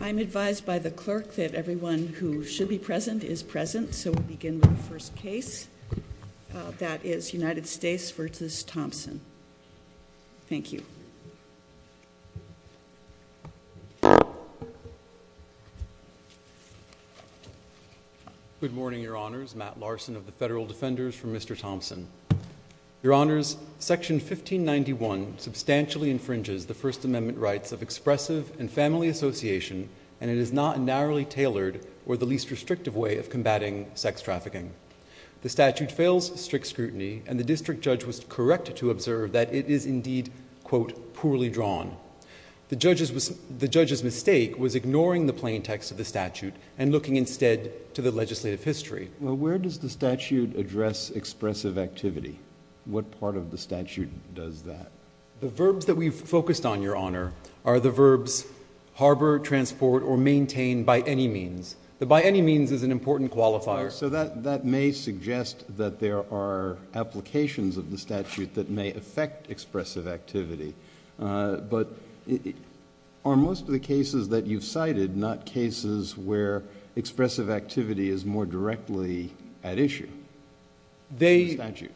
I'm advised by the clerk that everyone who should be present is present, so we'll begin with the first case. That is United States v. Thompson. Thank you. Good morning, Your Honors. Matt Larson of the Federal Defenders for Mr. Thompson. Your Honors, Section 1591 substantially infringes the First Amendment rights of expressive and family association, and it is not a narrowly tailored or the least restrictive way of combating sex trafficking. The statute fails strict scrutiny, and the district judge was correct to observe that it is indeed, quote, poorly drawn. The judge's mistake was ignoring the plain text of the statute and looking instead to the legislative history. Well, where does the statute address expressive activity? What part of the statute does that? The verbs that we've focused on, Your Honor, are the verbs harbor, transport, or maintain by any means. The by any means is an important qualifier. So that may suggest that there are applications of the statute that may affect expressive activity, but are most of the cases that you've cited not cases where expressive activity is more directly at issue in the statute?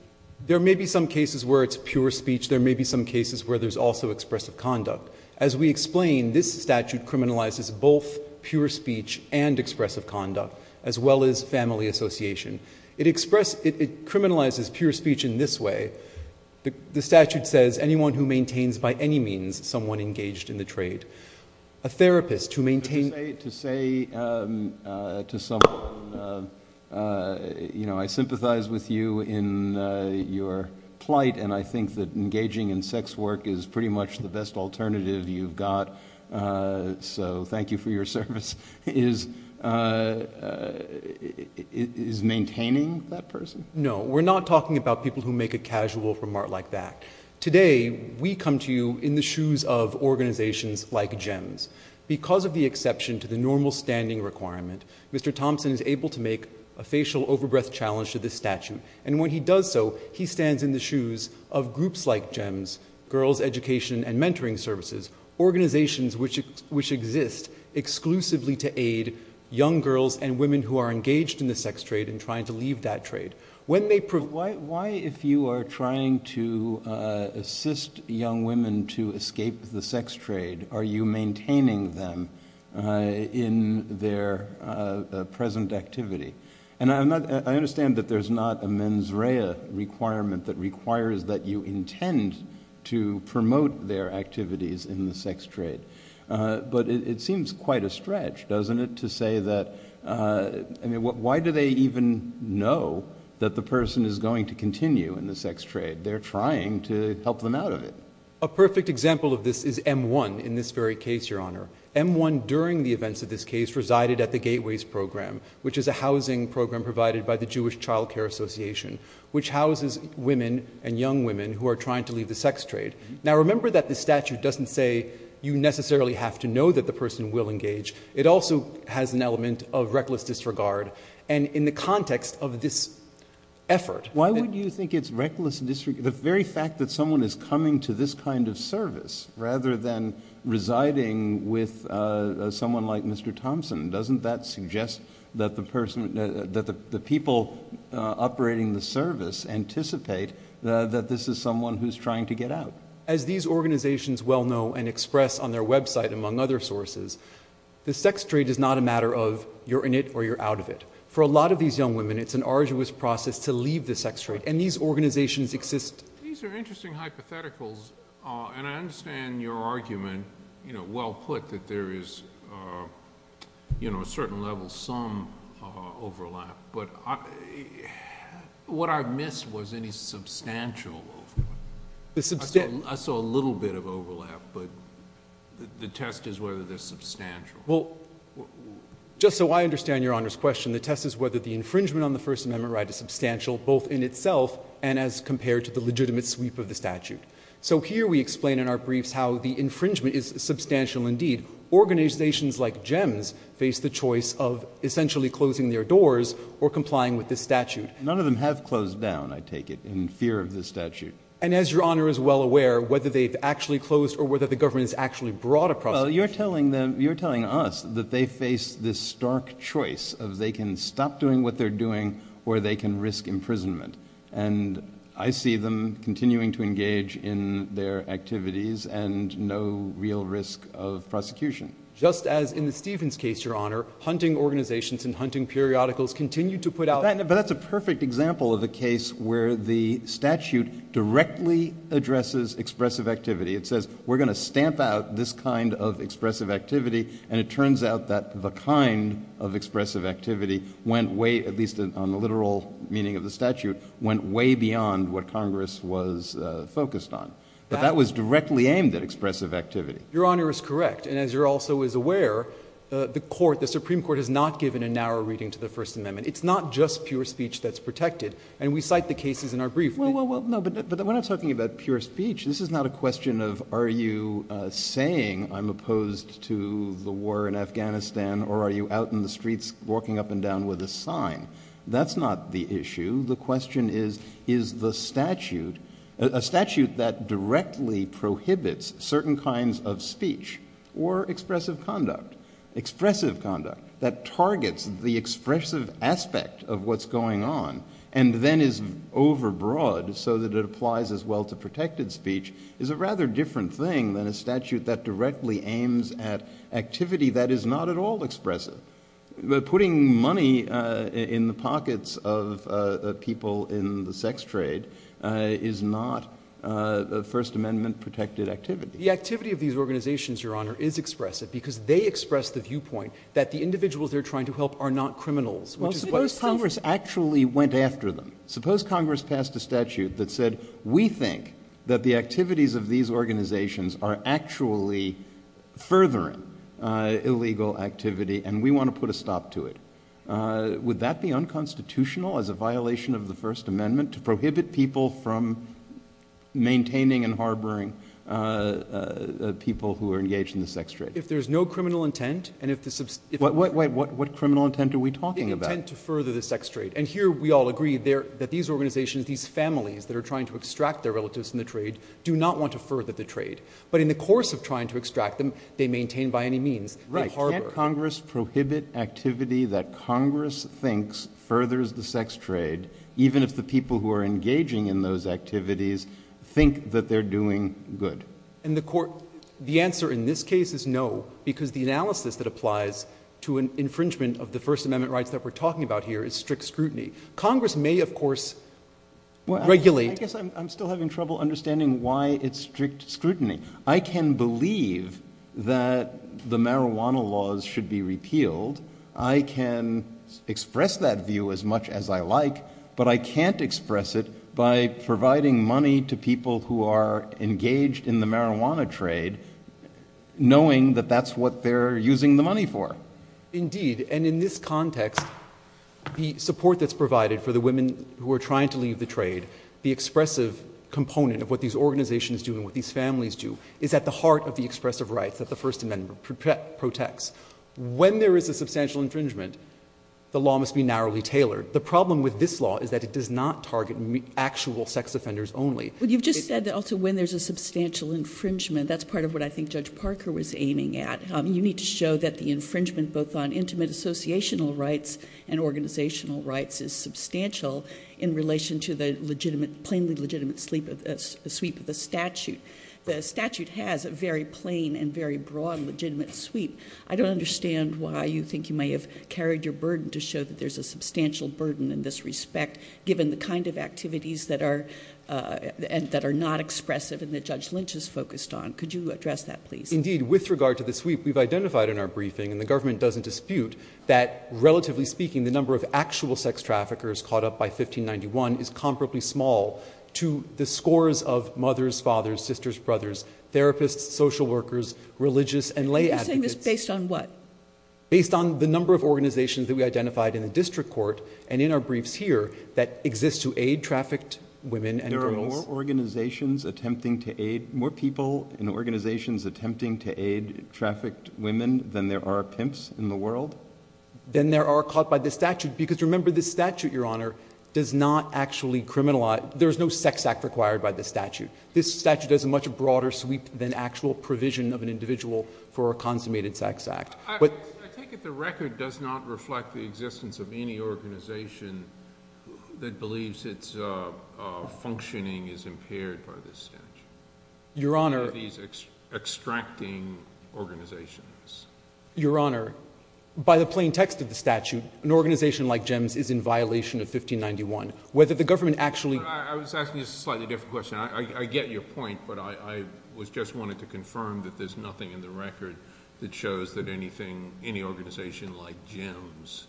There may be some cases where it's pure speech. There may be some cases where there's also expressive conduct. As we explain, this statute criminalizes both pure speech and expressive conduct, as well as family association. It criminalizes pure speech in this way. The statute says, anyone who maintains by any means someone engaged in the trade. A therapist who maintains— To say to someone, I sympathize with you in your plight, and I think that engaging in sex work is pretty much the best alternative you've got, so thank you for your service. Is maintaining that person? No. We're not talking about people who make a casual remark like that. Today, we come to you in the shoes of organizations like GEMS. Because of the exception to the normal standing requirement, Mr. Thompson is able to make a facial over-breath challenge to this statute. And when he does so, he stands in the shoes of groups like GEMS, Girls Education and Mentoring Services, organizations which exist exclusively to aid young girls and women who are engaged in the sex trade and trying to leave that trade. When they— Why if you are trying to assist young women to escape the sex trade, are you maintaining them in their present activity? And I understand that there's not a mens rea requirement that requires that you intend to promote their activities in the sex trade. But it seems quite a stretch, doesn't it, to say that—I mean, why do they even know that the person is going to continue in the sex trade? They're trying to help them out of it. A perfect example of this is M1 in this very case, Your Honor. M1 during the events of this case resided at the Gateways Program, which is a housing program provided by the Jewish Child Care Association, which houses women and young women who are trying to leave the sex trade. Now remember that the statute doesn't say you necessarily have to know that the person will engage. It also has an element of reckless disregard. And in the context of this effort— Why would you think it's reckless—the very fact that someone is coming to this kind of service rather than residing with someone like Mr. Thompson, doesn't that suggest that the person—that the people operating the service anticipate that this is someone who's trying to get out? As these organizations well know and express on their website, among other sources, the For a lot of these young women, it's an arduous process to leave the sex trade. And these organizations exist— These are interesting hypotheticals, and I understand your argument, well put, that there is a certain level, some overlap. But what I missed was any substantial overlap. I saw a little bit of overlap, but the test is whether there's substantial. Well, just so I understand Your Honor's question, the test is whether the infringement on the First Amendment right is substantial, both in itself and as compared to the legitimate sweep of the statute. So here we explain in our briefs how the infringement is substantial indeed. Organizations like GEMS face the choice of essentially closing their doors or complying with this statute. None of them have closed down, I take it, in fear of this statute. And as Your Honor is well aware, whether they've actually closed or whether the government has actually brought a process— Well, you're telling us that they face this stark choice of they can stop doing what they're doing or they can risk imprisonment. And I see them continuing to engage in their activities and no real risk of prosecution. Just as in the Stevens case, Your Honor, hunting organizations and hunting periodicals continue to put out— But that's a perfect example of a case where the statute directly addresses expressive activity. It says, we're going to stamp out this kind of expressive activity, and it turns out that the kind of expressive activity went way, at least on the literal meaning of the statute, went way beyond what Congress was focused on. But that was directly aimed at expressive activity. Your Honor is correct. And as Your Honor also is aware, the court, the Supreme Court has not given a narrow reading to the First Amendment. It's not just pure speech that's protected. And we cite the cases in our brief. Well, well, well, no, but when I'm talking about pure speech, this is not a question of are you saying I'm opposed to the war in Afghanistan or are you out in the streets walking up and down with a sign. That's not the issue. The question is, is the statute, a statute that directly prohibits certain kinds of speech or expressive conduct, expressive conduct that targets the expressive aspect of what's going on and then is overbroad so that it applies as well to protected speech is a rather different thing than a statute that directly aims at activity that is not at all expressive. Putting money in the pockets of people in the sex trade is not a First Amendment protected activity. The activity of these organizations, Your Honor, is expressive because they express the viewpoint that the individuals they're trying to help are not criminals, which is Congress actually went after them. Suppose Congress passed a statute that said, we think that the activities of these organizations are actually furthering illegal activity, and we want to put a stop to it. Would that be unconstitutional as a violation of the First Amendment to prohibit people from maintaining and harboring people who are engaged in the sex trade? If there's no criminal intent and if the... Wait, wait. What criminal intent are we talking about? Criminal intent to further the sex trade. And here we all agree that these organizations, these families that are trying to extract their relatives in the trade, do not want to further the trade. But in the course of trying to extract them, they maintain by any means. Right. Can't Congress prohibit activity that Congress thinks furthers the sex trade, even if the people who are engaging in those activities think that they're doing good? And the answer in this case is no, because the analysis that applies to an infringement of the First Amendment rights that we're talking about here is strict scrutiny. Congress may, of course, regulate... I guess I'm still having trouble understanding why it's strict scrutiny. I can believe that the marijuana laws should be repealed. I can express that view as much as I like, but I can't express it by providing money to people who are engaged in the marijuana trade, knowing that that's what they're using the money for. Indeed. And in this context, the support that's provided for the women who are trying to leave the trade, the expressive component of what these organizations do and what these families do is at the heart of the expressive rights that the First Amendment protects. When there is a substantial infringement, the law must be narrowly tailored. The problem with this law is that it does not target actual sex offenders only. But you've just said that also when there's a substantial infringement, that's part of what I think Judge Parker was aiming at. You need to show that the infringement, both on intimate associational rights and organizational rights, is substantial in relation to the plainly legitimate sweep of the statute. The statute has a very plain and very broad legitimate sweep. I don't understand why you think you may have carried your burden to show that there's a substantial burden in this respect, given the kind of activities that are not expressive and that Judge Lynch is focused on. Could you address that, please? Indeed, with regard to the sweep, we've identified in our briefing, and the government doesn't dispute, that relatively speaking, the number of actual sex traffickers caught up by 1591 is comparably small to the scores of mothers, fathers, sisters, brothers, therapists, social workers, religious and lay advocates. You're saying this based on what? Based on the number of organizations that we identified in the district court and in our briefs here that exist to aid trafficked women and girls. More people in organizations attempting to aid trafficked women than there are pimps in the world? Than there are caught by the statute. Because remember, this statute, Your Honor, does not actually criminalize. There's no sex act required by the statute. This statute does a much broader sweep than actual provision of an individual for a consummated sex act. I take it the record does not reflect the existence of any organization that believes its functioning is impaired by this statute? Your Honor. These extracting organizations. Your Honor, by the plain text of the statute, an organization like GEMS is in violation of 1591. Whether the government actually... I was asking you a slightly different question. I get your point, but I just wanted to confirm that there's nothing in the record that shows any organization like GEMS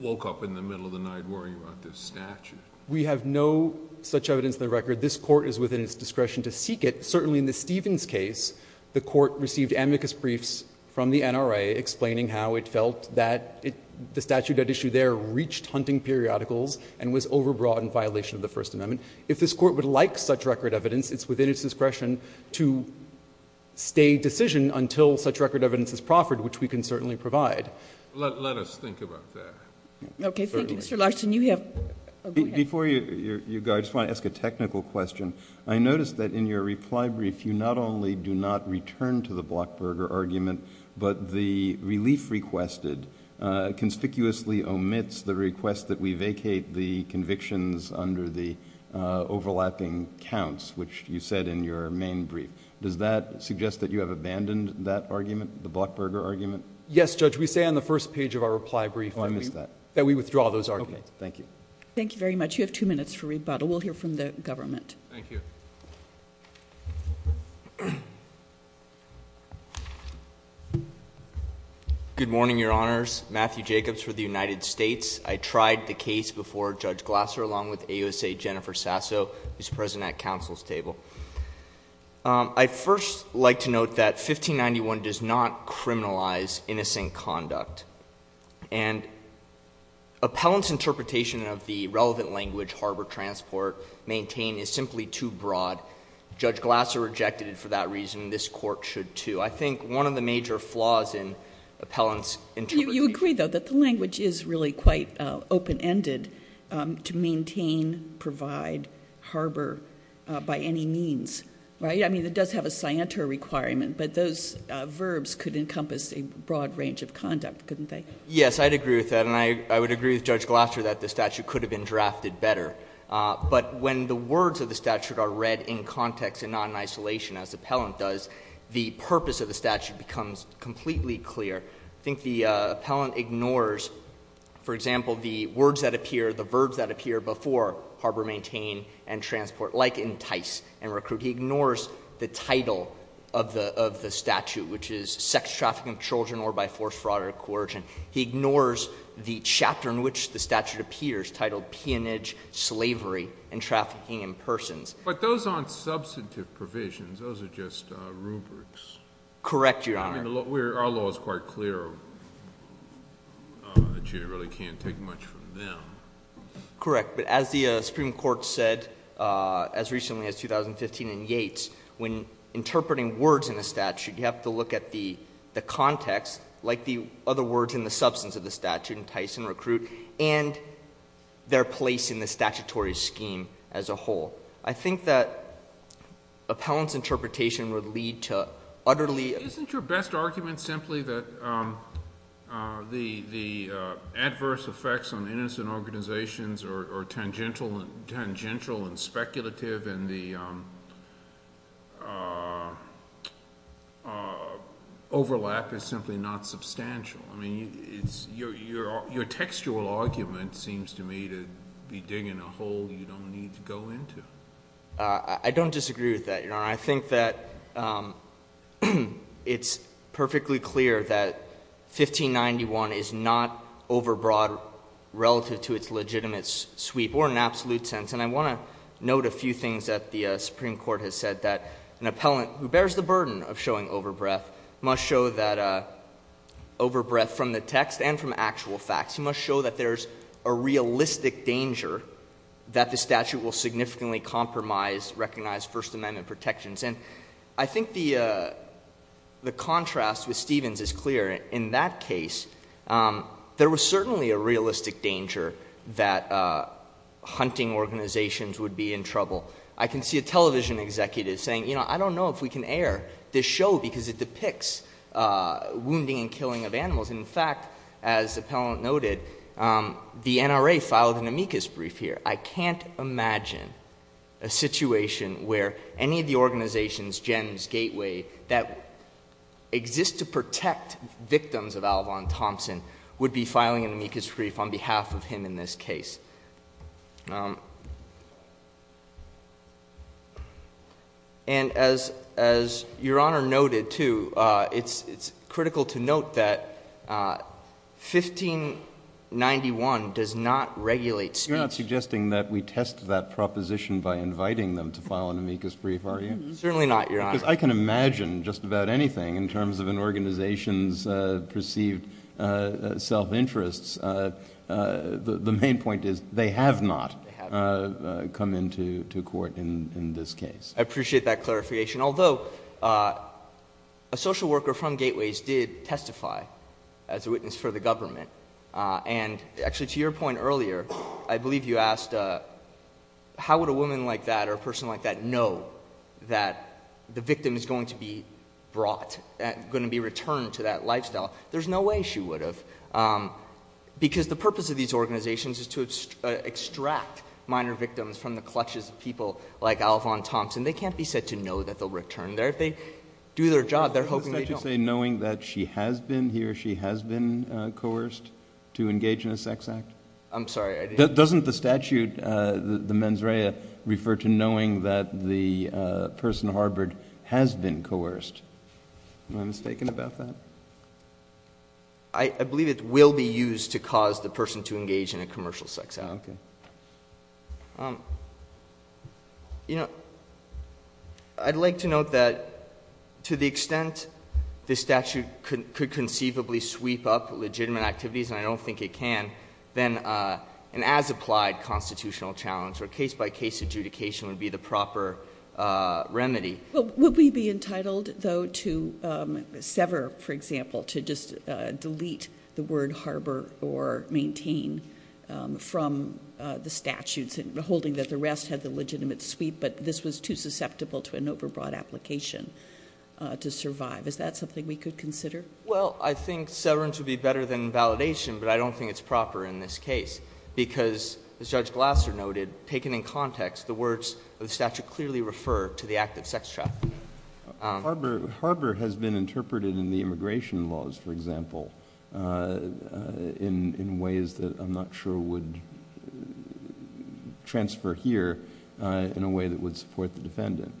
woke up in the middle of the night worrying about this statute? We have no such evidence in the record. This court is within its discretion to seek it. Certainly in the Stevens case, the court received amicus briefs from the NRA explaining how it felt that the statute at issue there reached hunting periodicals and was overbrought in violation of the First Amendment. If this court would like such record evidence, it's within its discretion to stay decision until such record evidence is proffered, which we can certainly provide. Let us think about that. Okay. Thank you, Mr. Larson. You have... Before you go, I just want to ask a technical question. I noticed that in your reply brief, you not only do not return to the Blockberger argument, but the relief requested conspicuously omits the request that we vacate the convictions under the overlapping counts, which you said in your main brief. Does that suggest that you have abandoned that argument, the Blockberger argument? Yes, Judge. We say on the first page of our reply brief that we withdraw those arguments. Okay. Thank you. Thank you very much. You have two minutes for rebuttal. We'll hear from the government. Thank you. Good morning, Your Honors. Matthew Jacobs for the United States. I tried the case before Judge Glasser, along with AUSA Jennifer Sasso, who's present at counsel's table. I'd first like to note that 1591 does not criminalize innocent conduct. And appellant's interpretation of the relevant language, harbor transport, maintained, is simply too broad. Judge Glasser rejected it for that reason. This Court should, too. I think one of the major flaws in appellant's interpretation... Right..... is that it's not quite open-ended to maintain, provide, harbor by any means. Right? I mean, it does have a scienter requirement, but those verbs could encompass a broad range of conduct, couldn't they? Yes, I'd agree with that, and I would agree with Judge Glasser that the statute could have been drafted better. But when the words of the statute are read in context and not in isolation, as appellant does, the purpose of the statute becomes completely clear. I think the appellant ignores, for example, the words that appear, the verbs that appear before harbor, maintain, and transport, like entice and recruit. He ignores the title of the statute, which is sex trafficking of children or by force, fraud, or coercion. He ignores the chapter in which the statute appears, titled peonage, slavery, and trafficking in persons. But those aren't substantive provisions. Those are just rubrics. Correct, Your Honor. I mean, our law is quite clear that you really can't take much from them. Correct. But as the Supreme Court said, as recently as 2015 in Yates, when interpreting words in a statute, you have to look at the context, like the other words in the substance of the statute, entice and recruit, and their place in the statutory scheme as a whole. I think that appellant's interpretation would lead to utterly... Isn't your best argument simply that the adverse effects on innocent organizations are tangential and speculative, and the overlap is simply not substantial? Your textual argument seems to me to be digging a hole you don't need to go into. I don't disagree with that, Your Honor. And I think that it's perfectly clear that 1591 is not overbroad relative to its legitimate sweep or in an absolute sense. And I want to note a few things that the Supreme Court has said, that an appellant who bears the burden of showing overbreath must show that overbreath from the text and from actual facts. He must show that there's a realistic danger that the statute will significantly compromise recognized First Amendment protections. And I think the contrast with Stevens is clear. In that case, there was certainly a realistic danger that hunting organizations would be in trouble. I can see a television executive saying, you know, I don't know if we can air this show because it depicts wounding and killing of animals. And in fact, as the appellant noted, the NRA filed an amicus brief here. I can't imagine a situation where any of the organizations, GEMS, Gateway, that exist to protect victims of Alvon Thompson would be filing an amicus brief on behalf of him in this case. And as Your Honor noted, too, it's critical to note that 1591 does not regulate speech. So you're not suggesting that we test that proposition by inviting them to file an amicus brief, are you? Certainly not, Your Honor. Because I can imagine just about anything in terms of an organization's perceived self-interests. The main point is they have not come into court in this case. I appreciate that clarification. Although, a social worker from Gateways did testify as a witness for the government. And actually, to your point earlier, I believe you asked, how would a woman like that or a person like that know that the victim is going to be brought, going to be returned to that lifestyle? There's no way she would have. Because the purpose of these organizations is to extract minor victims from the clutches of people like Alvon Thompson. They can't be said to know that they'll return there. If they do their job, they're hoping they don't. So you're saying knowing that she has been, he or she has been coerced to engage in a sex act? I'm sorry, I didn't— Doesn't the statute, the mens rea, refer to knowing that the person harbored has been coerced? Am I mistaken about that? I believe it will be used to cause the person to engage in a commercial sex act. Okay. Um, you know, I'd like to note that to the extent the statute could conceivably sweep up legitimate activities, and I don't think it can, then an as-applied constitutional challenge or case-by-case adjudication would be the proper remedy. Would we be entitled, though, to sever, for example, to just delete the word harbor or the statutes and holding that the rest had the legitimate sweep, but this was too susceptible to an overbroad application to survive? Is that something we could consider? Well, I think severance would be better than validation, but I don't think it's proper in this case because, as Judge Glasser noted, taken in context, the words of the statute clearly refer to the act of sex trafficking. Harbor has been interpreted in the immigration laws, for example, in ways that I'm not sure would transfer here in a way that would support the defendant.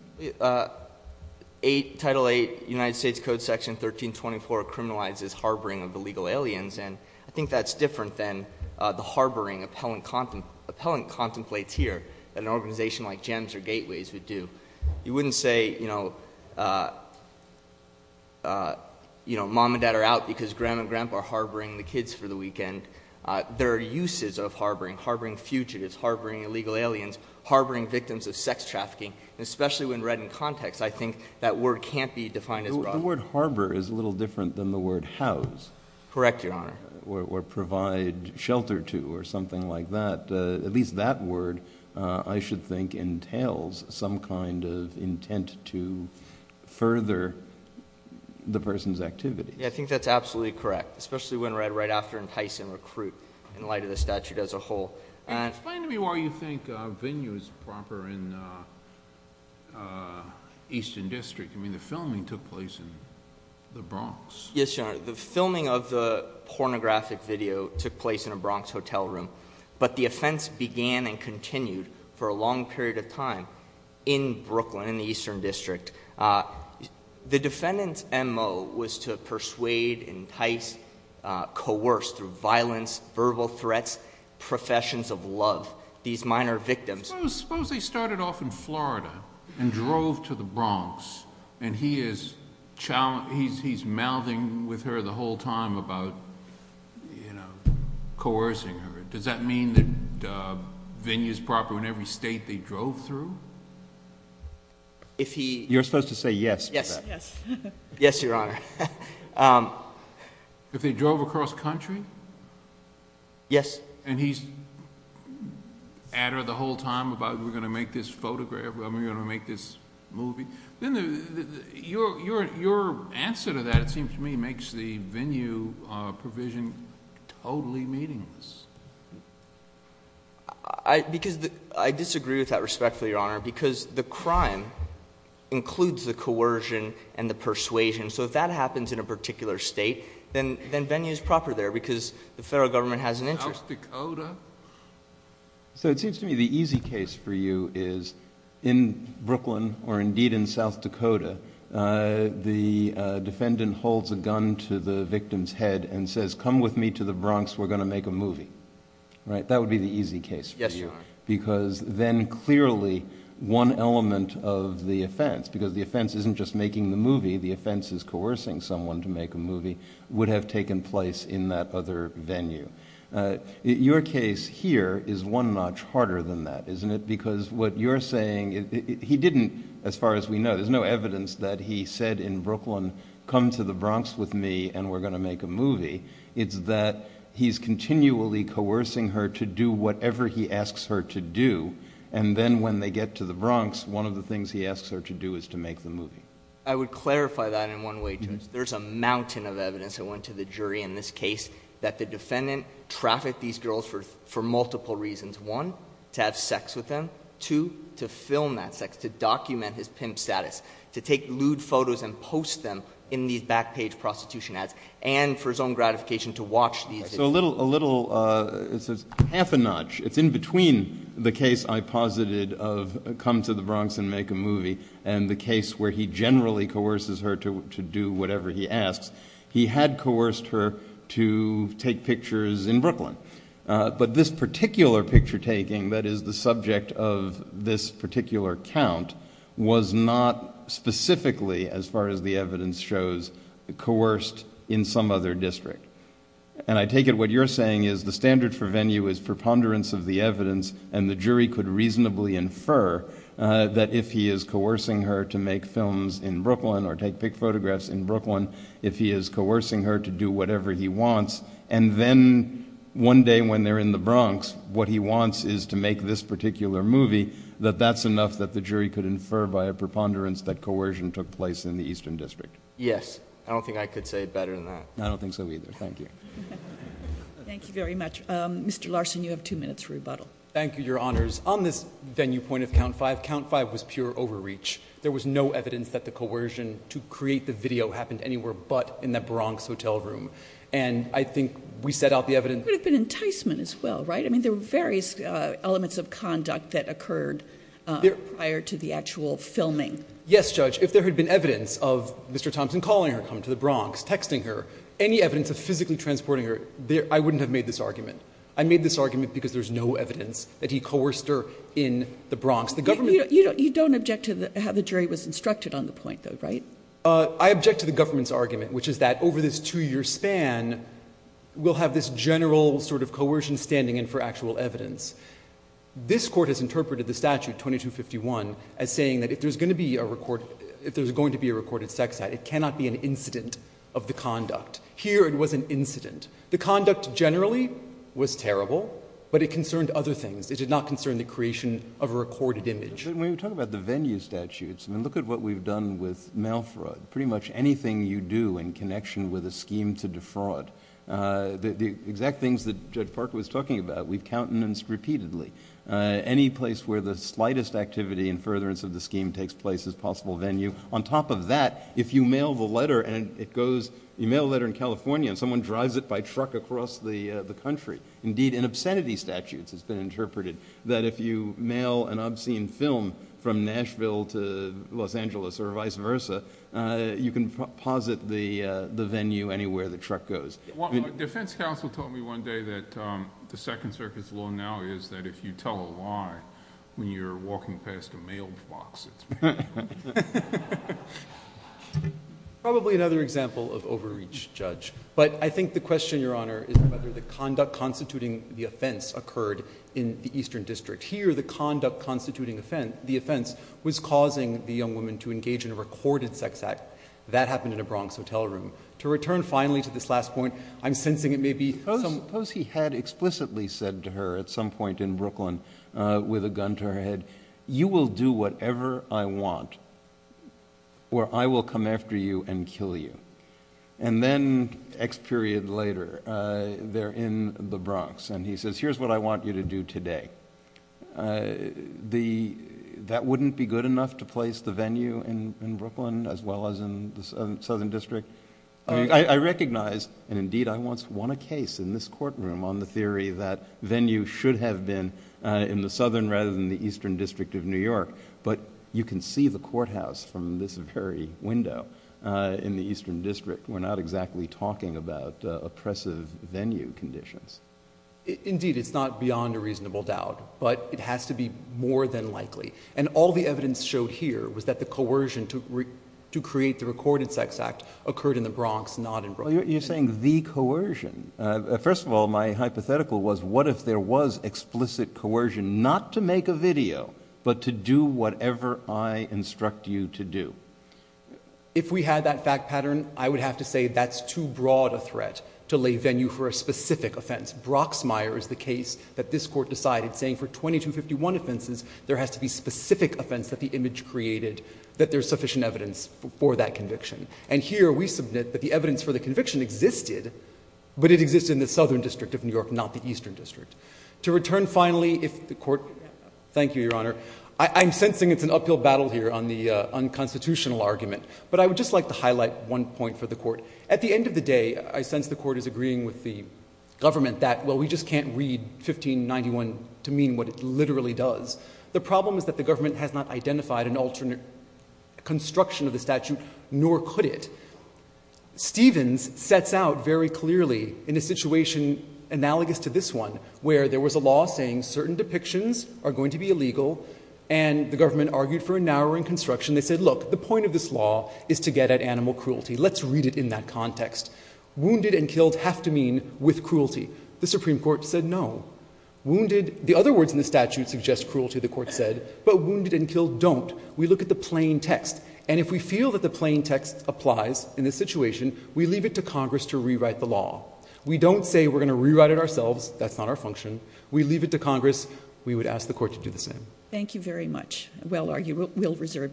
Title VIII, United States Code Section 1324 criminalizes harboring of illegal aliens, and I think that's different than the harboring appellant contemplates here that an organization like GEMS or Gateways would do. You wouldn't say, you know, mom and dad are out because grandma and grandpa are harboring the kids for the weekend. There are uses of harboring, harboring fugitives, harboring illegal aliens, harboring victims of sex trafficking, and especially when read in context, I think that word can't be defined as broad. The word harbor is a little different than the word house. Correct, Your Honor. Or provide shelter to or something like that. At least that word, I should think, entails some kind of intent to further the person's activities. Yeah, I think that's absolutely correct, especially when read right after entice and recruit in light of the statute as a whole. Explain to me why you think venue is proper in the Eastern District. I mean, the filming took place in the Bronx. Yes, Your Honor. The filming of the pornographic video took place in a Bronx hotel room, but the offense began and continued for a long period of time in Brooklyn, in the Eastern District. The defendant's MO was to persuade, entice, coerce through violence, verbal threats, professions of love, these minor victims. Suppose they started off in Florida and drove to the Bronx, and he's mouthing with her the whole time about coercing her. Does that mean that venue is proper in every state they drove through? You're supposed to say yes to that. Yes, Your Honor. If they drove across country? Yes. And he's at her the whole time about, we're going to make this photograph, we're going to make this movie. Your answer to that, it seems to me, makes the venue provision totally meaningless. I disagree with that respectfully, Your Honor, because the crime includes the coercion and the persuasion. So if that happens in a particular state, then venue is proper there because the federal government has an interest. South Dakota? So it seems to me the easy case for you is in Brooklyn, or indeed in South Dakota, the defendant holds a gun to the victim's head and says, come with me to the Bronx, we're going to make a movie. Right? That would be the easy case for you. Yes, Your Honor. Because then clearly one element of the offense, because the offense isn't just making the movie, the offense is coercing someone to make a movie, would have taken place in that other venue. Your case here is one notch harder than that, isn't it? Because what you're saying, he didn't, as far as we know, there's no evidence that he said in Brooklyn, come to the Bronx with me and we're going to make a movie. It's that he's continually coercing her to do whatever he asks her to do. And then when they get to the Bronx, one of the things he asks her to do is to make the movie. I would clarify that in one way, Judge. There's a mountain of evidence that went to the jury in this case that the defendant trafficked these girls for multiple reasons. One, to have sex with them. Two, to film that sex, to document his pimp status, to take lewd photos and post them in these back page prostitution ads. And for his own gratification, to watch these. So a little, it's half a notch. It's in between the case I posited of come to the Bronx and make a movie and the case where he generally coerces her to do whatever he asks. He had coerced her to take pictures in Brooklyn. But this particular picture taking that is the subject of this particular count was not specifically, as far as the evidence shows, coerced in some other district. And I take it what you're saying is the standard for venue is preponderance of the evidence and the jury could reasonably infer that if he is coercing her to make films in Brooklyn or take pic photographs in Brooklyn, if he is coercing her to do whatever he wants, and then one day when they're in the Bronx, what he wants is to make this particular movie, that that's enough that the jury could infer by a preponderance that coercion took place in the Eastern District. Yes. I don't think I could say it better than that. I don't think so either. Thank you. Thank you very much. Mr. Larson, you have two minutes for rebuttal. Thank you, Your Honors. On this venue point of count five, count five was pure overreach. There was no evidence that the coercion to create the video happened anywhere but in the Bronx hotel room. And I think we set out the evidence. There could have been enticement as well, right? I mean, there were various elements of conduct that occurred prior to the actual filming. Yes, Judge. If there had been evidence of Mr. Thompson calling her, coming to the Bronx, texting her, any evidence of physically transporting her, I wouldn't have made this argument. I made this argument because there's no evidence that he coerced her in the Bronx. You don't object to how the jury was instructed on the point, though, right? I object to the government's argument, which is that over this two-year span, we'll have this general sort of coercion standing in for actual evidence. This Court has interpreted the statute, 2251, as saying that if there's going to be a recorded sex act, it cannot be an incident of the conduct. Here, it was an incident. The conduct generally was terrible, but it concerned other things. It did not concern the creation of a recorded image. When you talk about the venue statutes, I mean, look at what we've done with mail fraud. Pretty much anything you do in connection with a scheme to defraud. The exact things that Judge Parker was talking about, we've countenanced repeatedly. Any place where the slightest activity in furtherance of the scheme takes place as possible venue. On top of that, if you mail the letter and it goes, you mail a letter in California and someone drives it by truck across the country. Indeed, in obscenity statutes, it's been interpreted that if you mail an obscene film from Nashville to Los Angeles or vice versa, you can posit the venue anywhere the defense counsel told me one day that the Second Circuit's law now is that if you tell a lie, when you're walking past a mailed box, it's... Probably another example of overreach, Judge, but I think the question, Your Honor, is whether the conduct constituting the offense occurred in the Eastern District. Here, the conduct constituting the offense was causing the young woman to engage in a recorded sex act. That happened in a Bronx hotel room. To return finally to this last point, I'm sensing it may be... Suppose he had explicitly said to her at some point in Brooklyn with a gun to her head, you will do whatever I want or I will come after you and kill you. And then, X period later, they're in the Bronx and he says, here's what I want you to do today. That wouldn't be good enough to place the venue in Brooklyn as well as in the Southern District. I recognize, and indeed I once won a case in this courtroom on the theory that venue should have been in the Southern rather than the Eastern District of New York. But you can see the courthouse from this very window in the Eastern District. We're not exactly talking about oppressive venue conditions. Indeed, it's not beyond a reasonable doubt, but it has to be more than likely. And all the evidence showed here was that the coercion to create the recorded sex act occurred in the Bronx, not in Brooklyn. You're saying the coercion. First of all, my hypothetical was, what if there was explicit coercion not to make a video, but to do whatever I instruct you to do? If we had that fact pattern, I would have to say that's too broad a threat to lay venue for a specific offense. Broxmire is the case that this Court decided saying for 2251 offenses, there has to be specific offense that the image created, that there's sufficient evidence for that conviction. And here we submit that the evidence for the conviction existed, but it existed in the Southern District of New York, not the Eastern District. To return finally, if the Court, thank you, Your Honor. I'm sensing it's an uphill battle here on the unconstitutional argument. But I would just like to highlight one point for the Court. At the end of the day, I sense the Court is agreeing with the government that, well, we just can't read 1591 to mean what it literally does. The problem is that the government has not identified an alternate construction of the statute, nor could it. Stevens sets out very clearly in a situation analogous to this one, where there was a law saying certain depictions are going to be illegal, and the government argued for a narrowing construction. They said, look, the point of this law is to get at animal cruelty. Let's read it in that context. Wounded and killed have to mean with cruelty. The Supreme Court said no. Wounded, the other words in the statute suggest cruelty, the Court said. But wounded and killed don't. We look at the plain text, and if we feel that the plain text applies in this situation, we leave it to Congress to rewrite the law. We don't say we're going to rewrite it ourselves. That's not our function. We leave it to Congress. We would ask the Court to do the same. Thank you very much. Well argued. We'll reserve decision.